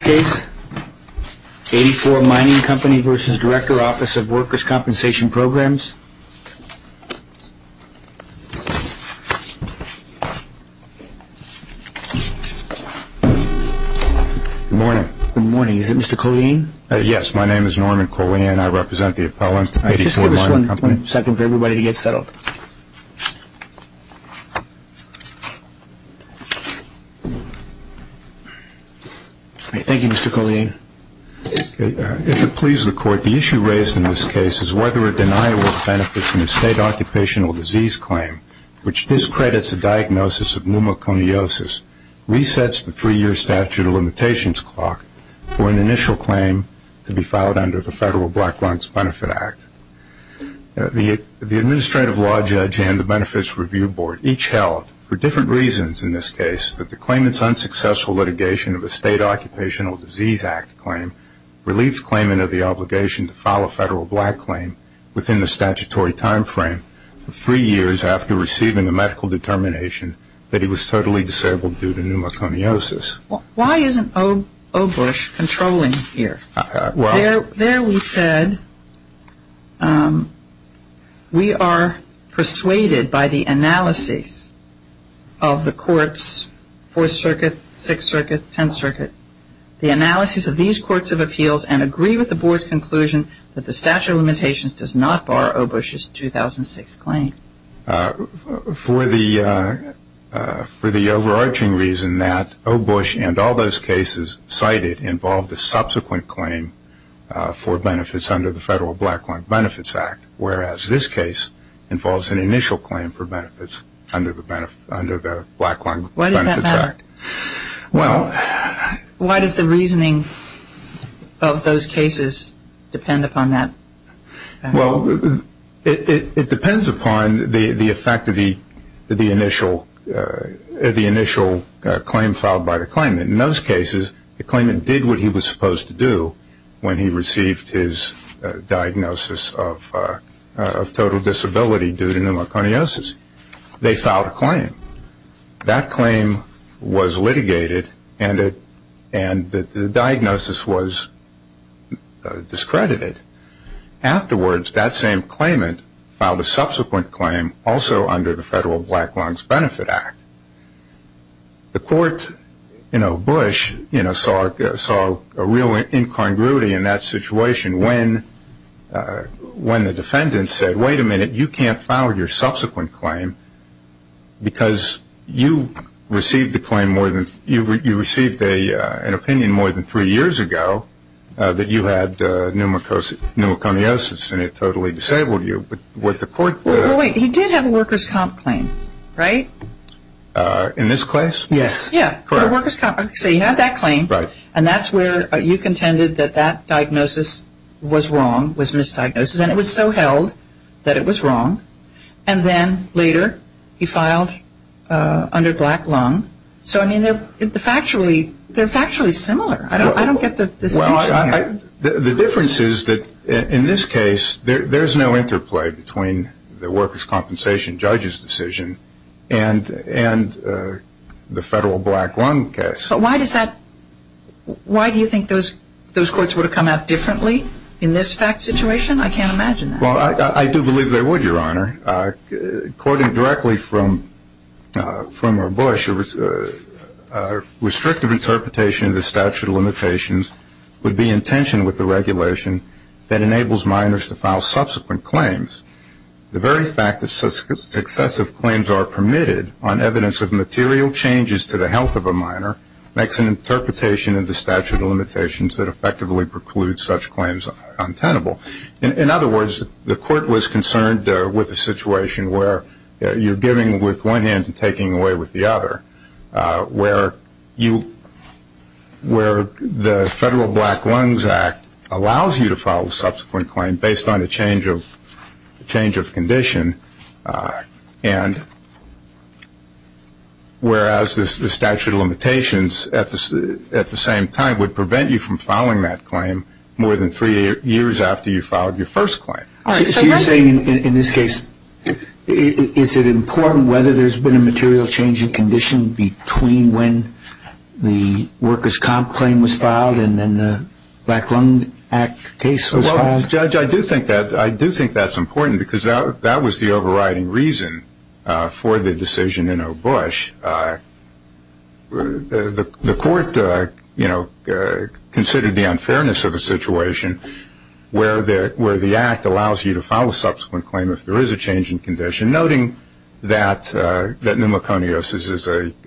Case. Eighty Four Mining Company v. Director, Office of Workers' Compensation Programs. Good morning. Good morning. Is it Mr. Colleen? Yes, my name is Norman Colleen. I represent the appellant. Just give us one second for everybody to get settled. Thank you, Mr. Colleen. If it pleases the Court, the issue raised in this case is whether a denial of benefits in a state occupational disease claim, which discredits a diagnosis of pneumoconiosis, resets the three-year statute of limitations clock for an initial claim to be filed under the Federal Black Runts Benefit Act. The Administrative Law Judge and the Benefits Review Board each held, for different reasons in this case, that the claimant's unsuccessful litigation of a state occupational disease act claim relieves claimant of the obligation to file a federal black claim within the statutory time frame of three years after receiving a medical determination that he was totally disabled due to pneumoconiosis. Why isn't O. Bush controlling here? There we said we are persuaded by the analysis of the courts, Fourth Circuit, Sixth Circuit, Tenth Circuit, the analysis of these courts of appeals and agree with the Board's conclusion that the statute of limitations does not bar O. Bush's 2006 claim. For the overarching reason that O. Bush and all those cases cited involved a subsequent claim for benefits under the Federal Black Lung Benefits Act, whereas this case involves an initial claim for benefits under the Black Lung Benefits Act. Why does that matter? Why does the reasoning of those cases matter? The effect of the initial claim filed by the claimant. In those cases, the claimant did what he was supposed to do when he received his diagnosis of total disability due to pneumoconiosis. They filed a claim. That claim was litigated and the diagnosis was discredited. Afterwards, that same claim also under the Federal Black Lung Benefits Act. The court, O. Bush, saw a real incongruity in that situation when the defendant said, wait a minute, you can't file your subsequent claim because you received an opinion more than three years ago that you had pneumoconiosis and it totally disabled you. He did have a workers' comp claim, right? In this case? Yes. He had that claim and that's where you contended that that diagnosis was wrong, was misdiagnosed, and it was so held that it was wrong. And then later, he filed under black lung. So, I mean, they're factually similar. I don't get the distinction here. The difference is that in this case, there's no interplay between the workers' compensation judge's decision and the Federal Black Lung case. But why do you think those courts would have come out differently in this fact situation? I can't imagine that. Well, I do believe they would, Your Honor. Quoting directly from O. Bush, a restrictive interpretation of the statute of limitations would be in tension with the regulation that enables minors to file subsequent claims. The very fact that successive claims are permitted on evidence of material changes to the health of a minor makes an interpretation of the statute of limitations that effectively precludes such claims untenable. In other words, the court was concerned with a situation where you're giving with one hand and taking away with the other, where you, where the Federal Black Lungs Act allows you to file a subsequent claim based on a change of condition, and whereas the statute of limitations at the same time would prevent you from filing that claim more than three years after you filed your first claim. So you're saying in this case, is it important whether there's been a material change in the workers' comp claim was filed and then the Black Lung Act case was filed? Well, Judge, I do think that's important because that was the overriding reason for the decision in O. Bush. The court, you know, considered the unfairness of a situation where the Act allows you to file a subsequent claim if there is a change in condition, noting that pneumoconiosis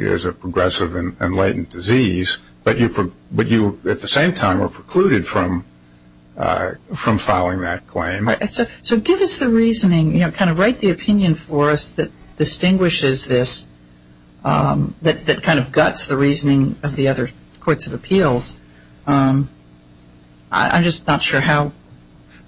is a progressive and latent disease, but you, at the same time, are precluded from filing that claim. So give us the reasoning, you know, kind of write the opinion for us that distinguishes this, that kind of guts the reasoning of the other courts of appeals. I'm just not sure how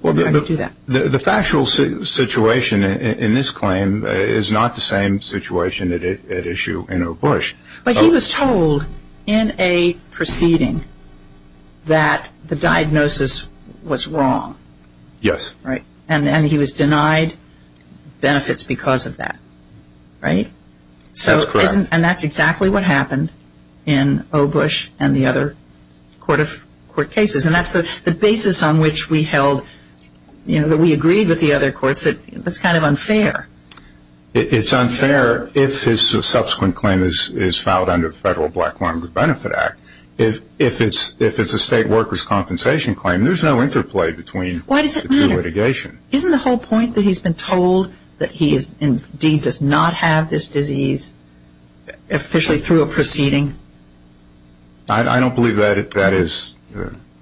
you do that. The factual situation in this claim is not the same situation at issue in O. Bush. But he was told in a proceeding that the diagnosis was wrong. Yes. Right. And then he was denied benefits because of that. Right. So that's correct. And that's exactly what happened in O. Bush and the other court of court cases. And that's the basis on which we held, you know, that we agreed with the other courts that that's kind of unfair. It's unfair if his subsequent claim is filed under the Federal Black Lung Benefit Act. If it's a state workers' compensation claim, there's no interplay between the two litigation. Why does it matter? Isn't the whole point that he's been told that he indeed does not have this disease officially through a proceeding? I don't believe that that is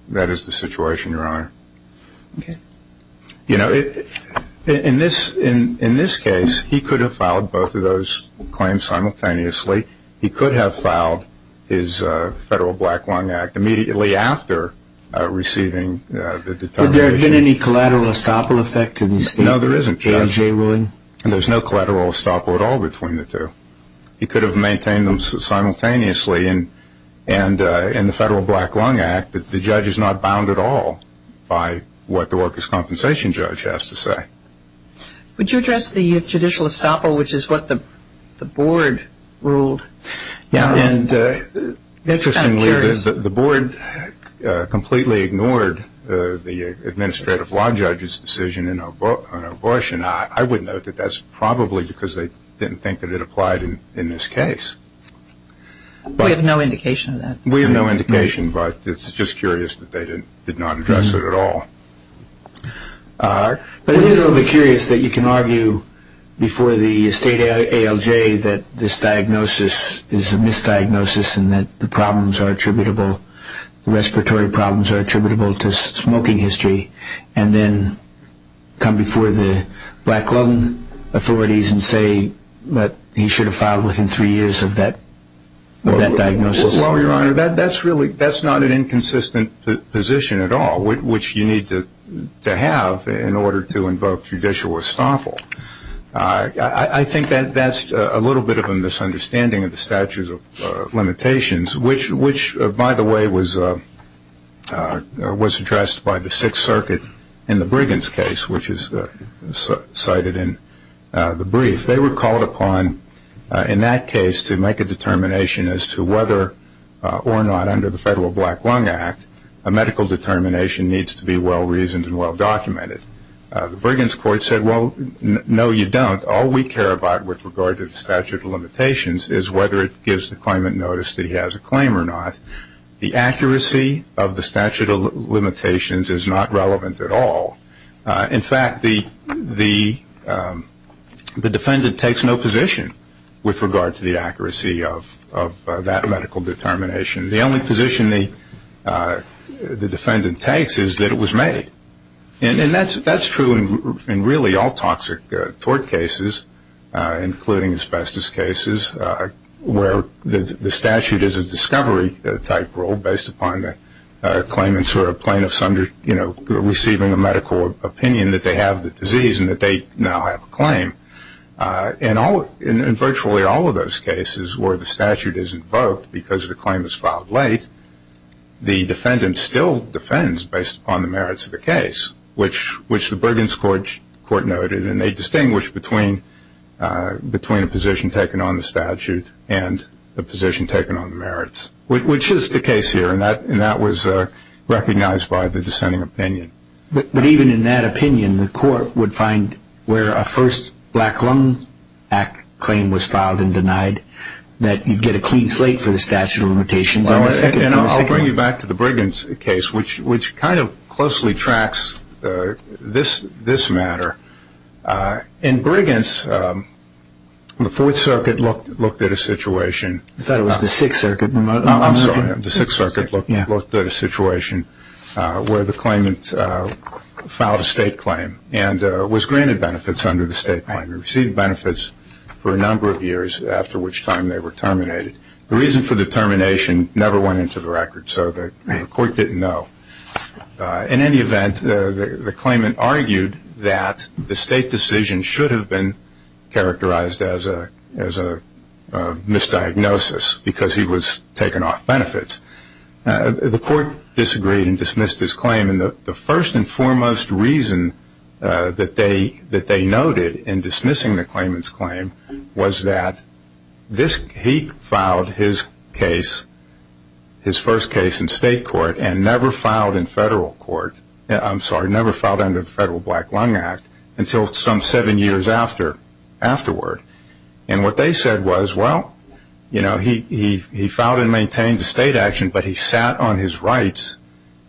that is the situation, Your Honor. You know, in this in this case, he could have filed both of those claims simultaneously. He could have filed his federal black lung act immediately after receiving the determination. Would there have been any collateral estoppel effect to this? No, there isn't, Judge. And there's no collateral estoppel at all between the two. He could have maintained them simultaneously. And in the Federal Black Lung Act, the judge is not bound at all by what the workers' compensation judge has to say. Would you address the judicial estoppel, which is what the board ruled? Yeah, and interestingly, the board completely ignored the administrative law judge's decision in O. Bush. And I would note that that's probably because they didn't think that it applied in this case. We have no indication of that. We have no indication, but it's just curious that they did not address it at all. But it is a little bit curious that you can argue before the state ALJ that this diagnosis is a misdiagnosis and that the problems are attributable, the respiratory problems are attributable to smoking history, and then come before the black lung authorities and say that he should have filed within three years of that diagnosis. Well, Your Honor, that's not an inconsistent position at all, which you need to have in order to invoke judicial estoppel. I think that's a little bit of a misunderstanding of the statute of limitations, which, by the way, was addressed by the Sixth Circuit in the Briggins case, which is cited in the brief. They were called upon in that case to make a determination as to whether or not, under the Federal Black Lung Act, a medical determination needs to be well-reasoned and well-documented. The Briggins court said, well, no, you don't. All we care about with regard to the statute of limitations is whether it gives the claimant notice that he has a claim or not. The accuracy of the statute of limitations is not relevant at all. In fact, the defendant takes no position with regard to the accuracy of that medical determination. The only position the defendant takes is that it was made. And that's true in really all toxic tort cases, including asbestos cases, where the statute is a discovery-type rule based upon the claimants or plaintiffs receiving a medical opinion that they have the disease and that they now have a claim. In virtually all of those cases where the statute is invoked because the claim is filed late, the defendant still defends based upon the merits of the case, which the Briggins court noted. And they distinguish between a position taken on the statute and a position taken on the merits, which is the case here, and that was recognized by the dissenting opinion. But even in that opinion, the court would find where a first Black Lung Act claim was filed and denied that you'd get a clean slate for the statute of limitations on the second one. And I'll bring you back to the Briggins case, which kind of closely tracks this matter. In Briggins, the Fourth Circuit looked at a situation. I thought it was the Sixth Circuit. I'm sorry, the Sixth Circuit looked at a situation where the claimant filed a state claim and was granted benefits under the state claim. He received benefits for a number of years, after which time they were terminated. The reason for the termination never went into the record, so the court didn't know. In any event, the claimant argued that the state decision should have been characterized as a misdiagnosis because he was taken off benefits. The court disagreed and dismissed his claim. The first and foremost reason that they noted in dismissing the claimant's claim was that he filed his first case in state court and never filed in federal court. I'm sorry, never filed under the Federal Black Lung Act until some seven years afterward. And what they said was, well, he filed and maintained a state action, but he sat on his rights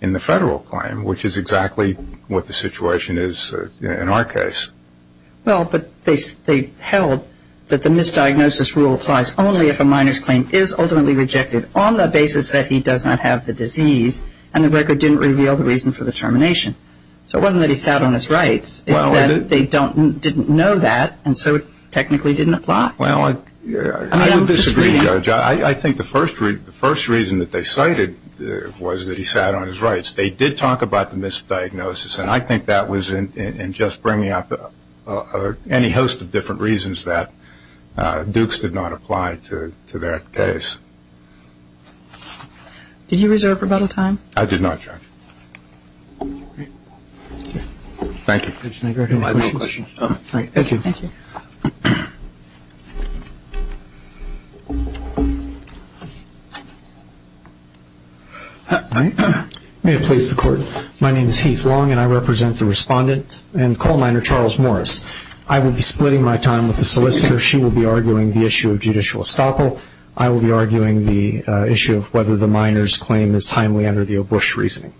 in the federal claim, which is exactly what the situation is in our case. Well, but they held that the misdiagnosis rule applies only if a minor's claim is ultimately rejected on the basis that he does not have the disease, and the record didn't reveal the reason for the termination. So it wasn't that he sat on his rights. It's that they didn't know that, and so it technically didn't apply. Well, I would disagree, Judge. I think the first reason that they cited was that he sat on his rights. They did talk about the misdiagnosis, and I think that was in just bringing up any host of different reasons that Dukes did not apply to that case. Did you reserve rebuttal time? I did not, Judge. Thank you. Thank you. May it please the Court. My name is Heath Long, and I represent the respondent and coal miner Charles Morris. I will be splitting my time with the solicitor. She will be arguing the issue of judicial estoppel. I will be arguing the issue of whether the minor's claim is timely under the O'Bush reasoning.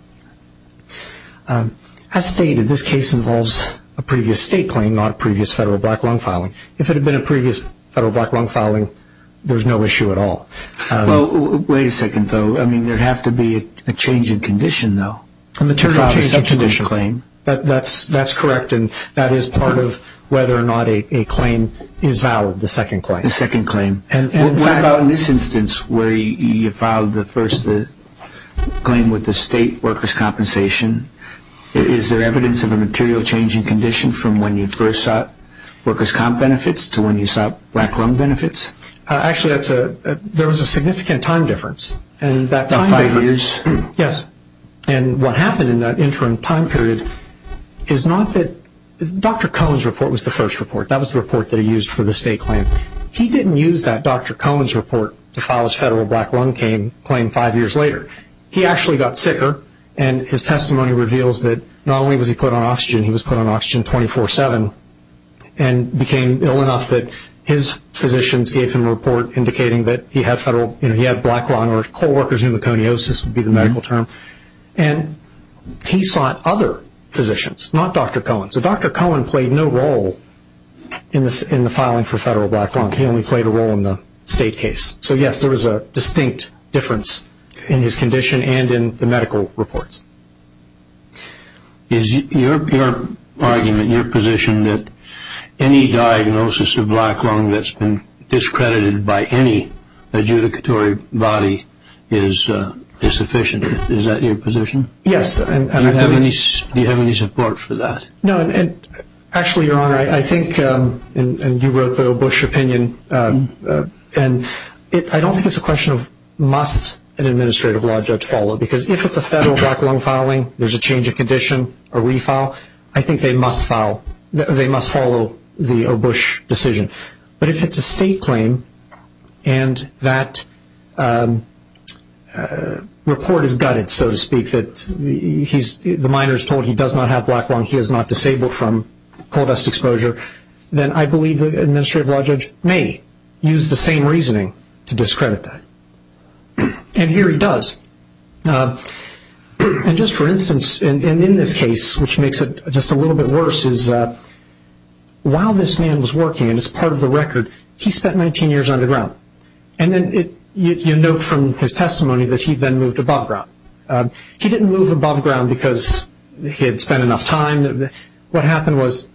As stated, this case involves a previous state claim, not a previous federal black lung filing. If it had been a previous federal black lung filing, there's no issue at all. Well, wait a second, though. I mean, there would have to be a change in condition, though. A material change in condition. That's correct, and that is part of whether or not a claim is valid, the second claim. The second claim. What about in this instance where you filed the first claim with the state workers' compensation? Is there evidence of a material change in condition from when you first sought workers' comp benefits to when you sought black lung benefits? Actually, there was a significant time difference. About five years? Yes. And what happened in that interim time period is not that Dr. Cohen's report was the first report. That was the report that he used for the state claim. He didn't use that Dr. Cohen's report to file his federal black lung claim five years later. He actually got sicker, and his testimony reveals that not only was he put on oxygen, he was put on oxygen 24-7 and became ill enough that his physicians gave him a report indicating that he had black lung, or co-workers' pneumoconiosis would be the medical term, and he sought other physicians, not Dr. Cohen's. So Dr. Cohen played no role in the filing for federal black lung. He only played a role in the state case. So, yes, there was a distinct difference in his condition and in the medical reports. Is your argument, your position that any diagnosis of black lung that's been discredited by any adjudicatory body is sufficient? Is that your position? Yes. Do you have any support for that? No. Actually, Your Honor, I think, and you wrote the O. Bush opinion, and I don't think it's a question of must an administrative law judge follow, because if it's a federal black lung filing, there's a change in condition, a refile, I think they must follow the O. Bush decision. But if it's a state claim and that report is gutted, so to speak, that the minor is told he does not have black lung, he is not disabled from coal dust exposure, then I believe the administrative law judge may use the same reasoning to discredit that. And here he does. And just for instance, and in this case, which makes it just a little bit worse, is while this man was working, and it's part of the record, he spent 19 years underground. And then you note from his testimony that he then moved above ground. He didn't move above ground because he had spent enough time. What happened was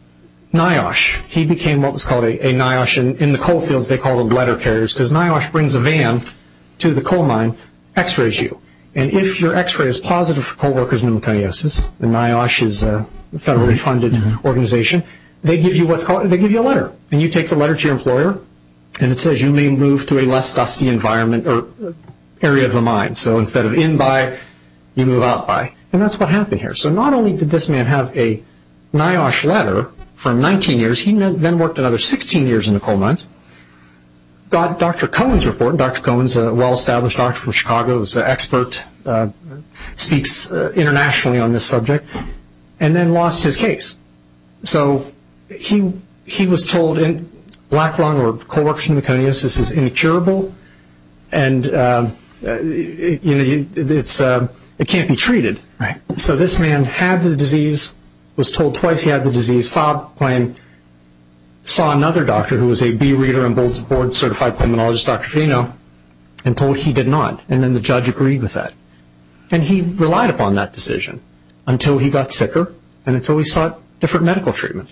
NIOSH, he became what was called a NIOSH, and in the coal fields they called them letter carriers because NIOSH brings a van to the coal mine, x-rays you, and if your x-ray is positive for coal workers pneumoconiosis, and NIOSH is a federally funded organization, they give you a letter. And you take the letter to your employer and it says you may move to a less dusty environment or area of the mine. So instead of in by, you move out by. And that's what happened here. So not only did this man have a NIOSH letter from 19 years, he then worked another 16 years in the coal mines, got Dr. Cohen's report. Dr. Cohen is a well-established doctor from Chicago, is an expert, speaks internationally on this subject, and then lost his case. So he was told black lung or coal worker pneumoconiosis is incurable and it can't be treated. So this man had the disease, was told twice he had the disease, filed a claim, saw another doctor who was a B Reader and Board Certified Pulmonologist, Dr. Geno, and told he did not, and then the judge agreed with that. And he relied upon that decision until he got sicker and until he sought different medical treatment.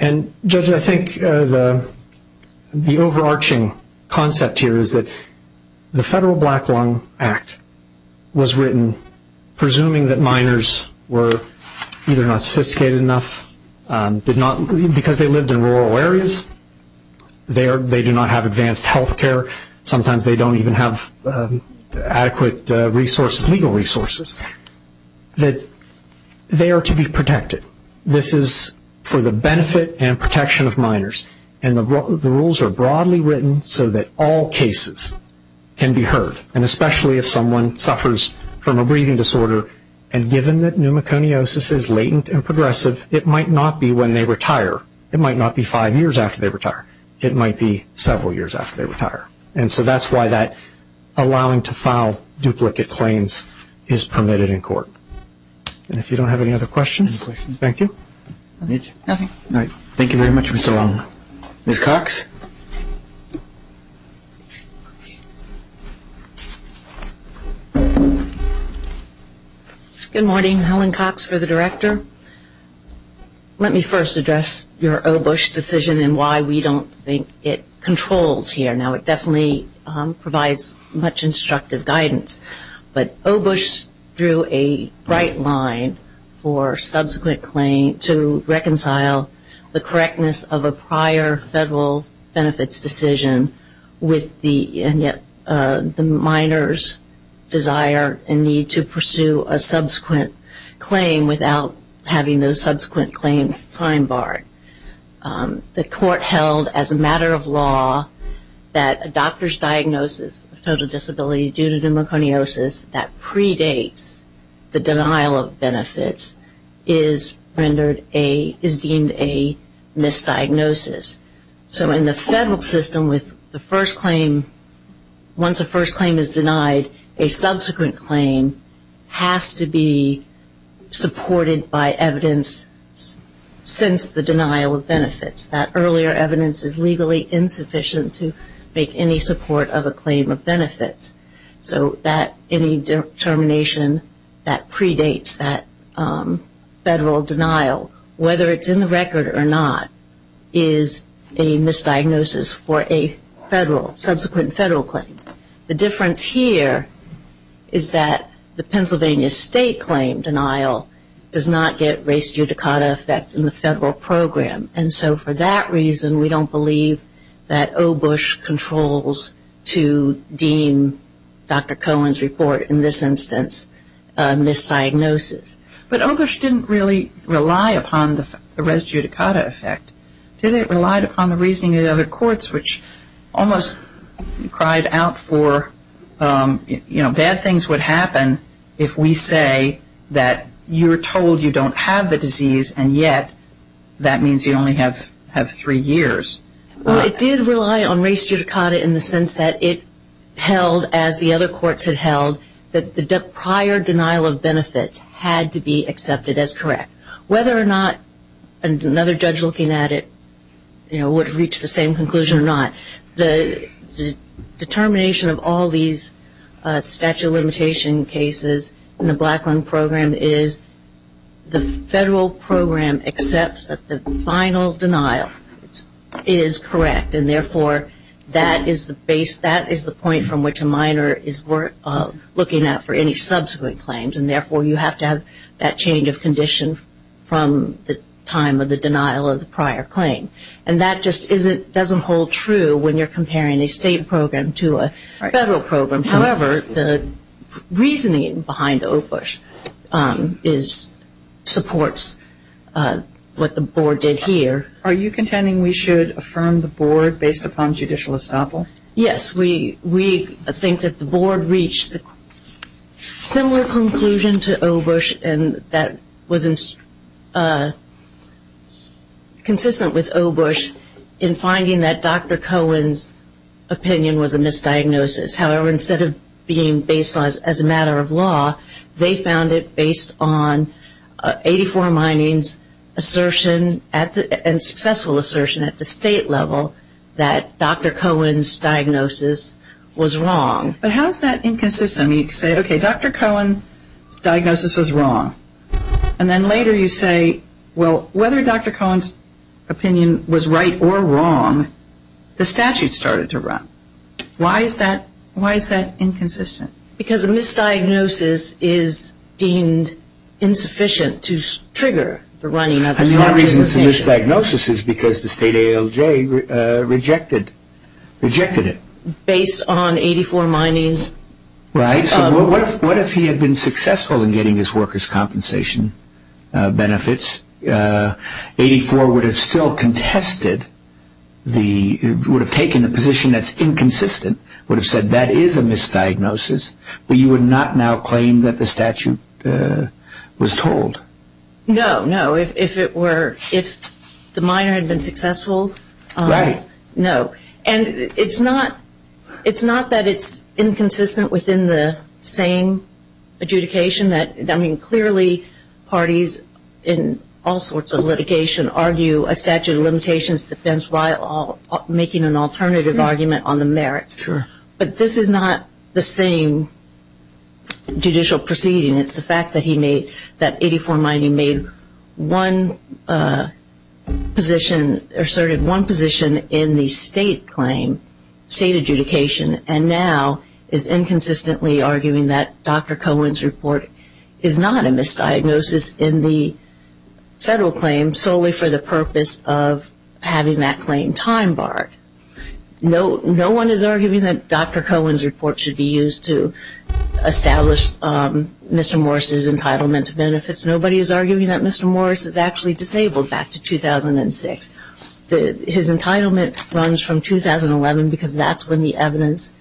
And, Judge, I think the overarching concept here is that the Federal Black Lung Act was written presuming that miners were either not sophisticated enough, because they lived in rural areas, they do not have advanced health care, sometimes they don't even have adequate legal resources, that they are to be protected. This is for the benefit and protection of miners. And the rules are broadly written so that all cases can be heard, and especially if someone suffers from a breathing disorder. And given that pneumoconiosis is latent and progressive, it might not be when they retire. It might not be five years after they retire. It might be several years after they retire. And so that's why that allowing to file duplicate claims is permitted in court. And if you don't have any other questions, thank you. Thank you very much, Mr. Long. Ms. Cox? Good morning. Helen Cox for the Director. Let me first address your O. Bush decision and why we don't think it controls here. Now, it definitely provides much instructive guidance. But O. Bush drew a bright line for subsequent claim to reconcile the correctness of a prior federal benefits decision with the miners' desire and need to pursue a subsequent claim without having those subsequent claims time-barred. The court held as a matter of law that a doctor's diagnosis of total disability due to pneumoconiosis that predates the denial of benefits is deemed a misdiagnosis. So in the federal system with the first claim, once a first claim is denied, a subsequent claim has to be supported by evidence since the denial of benefits. That earlier evidence is legally insufficient to make any support of a claim of benefits. So any determination that predates that federal denial, whether it's in the record or not, is a misdiagnosis for a federal, subsequent federal claim. The difference here is that the Pennsylvania state claim denial does not get race judicata effect in the federal program. And so for that reason, we don't believe that O. Bush controls to deem Dr. Cohen's report in this instance a misdiagnosis. But O. Bush didn't really rely upon the race judicata effect. He relied upon the reasoning of the other courts, which almost cried out for, you know, I only have three years. Well, it did rely on race judicata in the sense that it held as the other courts had held that the prior denial of benefits had to be accepted as correct. Whether or not another judge looking at it, you know, would reach the same conclusion or not, the determination of all these statute of limitation cases in the Blacklund program is the federal program that accepts that the final denial is correct. And, therefore, that is the base, that is the point from which a minor is looking out for any subsequent claims. And, therefore, you have to have that change of condition from the time of the denial of the prior claim. And that just doesn't hold true when you're comparing a state program to a federal program. However, the reasoning behind O. Bush supports what the board did here. Are you contending we should affirm the board based upon judicial estoppel? Yes. We think that the board reached a similar conclusion to O. Bush and that was consistent with O. Bush in finding that Dr. Cohen's opinion was a misdiagnosis. However, instead of being based as a matter of law, they found it based on 84 Mining's assertion and successful assertion at the state level that Dr. Cohen's diagnosis was wrong. But how is that inconsistent? You say, okay, Dr. Cohen's diagnosis was wrong. And then later you say, well, whether Dr. Cohen's opinion was right or wrong, the statute started to run. Why is that inconsistent? Because a misdiagnosis is deemed insufficient to trigger the running of the statute. And the only reason it's a misdiagnosis is because the state ALJ rejected it. Based on 84 Mining's- Right. So what if he had been successful in getting his workers' compensation benefits? 84 would have still contested the- would have taken the position that's inconsistent, would have said that is a misdiagnosis, but you would not now claim that the statute was told. No, no. If it were- if the miner had been successful- Right. No. And it's not- it's not that it's inconsistent within the same adjudication. I mean, clearly parties in all sorts of litigation argue a statute of limitations depends while making an alternative argument on the merits. Sure. But this is not the same judicial proceeding. It's the fact that he made- that 84 Mining made one position- asserted one position in the state claim, state adjudication, and now is inconsistently arguing that Dr. Cohen's report is not a misdiagnosis in the federal claim solely for the purpose of having that claim time-barred. No one is arguing that Dr. Cohen's report should be used to establish Mr. Morris's entitlement to benefits. Nobody is arguing that Mr. Morris is actually disabled back to 2006. His entitlement runs from 2011 because that's when the evidence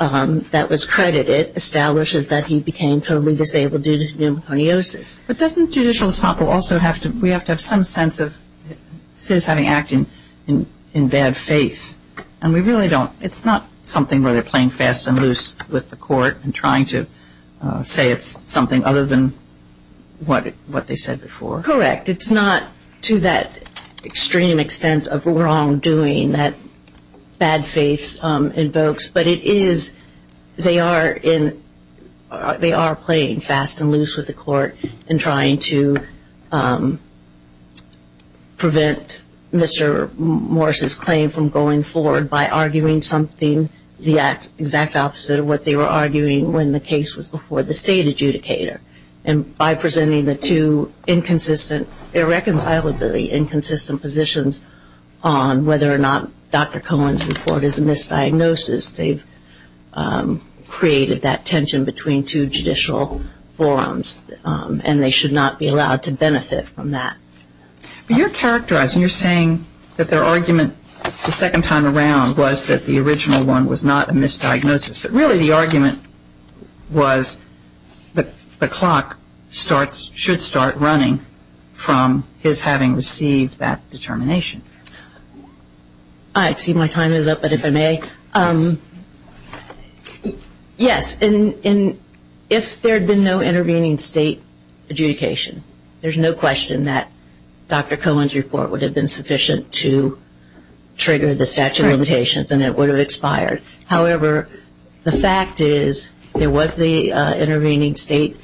that was credited establishes that he became totally disabled due to pneumoconiosis. But doesn't judicial estoppel also have to- we have to have some sense of citizens having acted in bad faith? And we really don't- it's not something where they're playing fast and loose with the court and trying to say it's something other than what they said before. Correct. It's not to that extreme extent of wrongdoing that bad faith invokes, but it is- they are in- they are playing fast and loose with the court and trying to prevent Mr. Morris's claim from going forward by arguing something the exact opposite of what they were arguing when the case was before the state adjudicator. And by presenting the two inconsistent- irreconcilably inconsistent positions on whether or not Dr. Cohen's report is a misdiagnosis, they've created that tension between two judicial forums and they should not be allowed to benefit from that. But you're characterizing- you're saying that their argument the second time around was that the original one was not a misdiagnosis, but really the argument was that the clock starts- should start running from his having received that determination. I see my time is up, but if I may. Yes, and if there had been no intervening state adjudication, there's no question that Dr. Cohen's report would have been sufficient to trigger the statute of limitations and it would have expired. However, the fact is there was the intervening state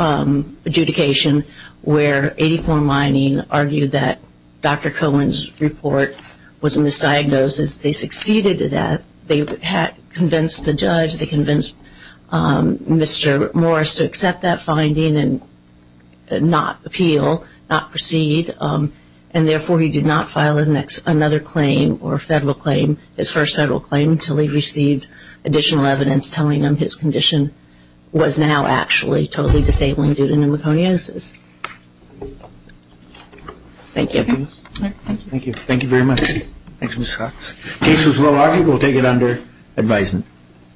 adjudication where 84 Mining argued that Dr. Cohen's report was a misdiagnosis. They succeeded at that. They had convinced the judge, they convinced Mr. Morris to accept that finding and not appeal, not proceed. And therefore, he did not file another claim or federal claim, his first federal claim, until he received additional evidence telling him his condition was now actually totally disabling due to pneumoconiosis. Thank you. Thank you. Thank you very much. Thanks, Ms. Cox. The case was well argued. We'll take it under advisement.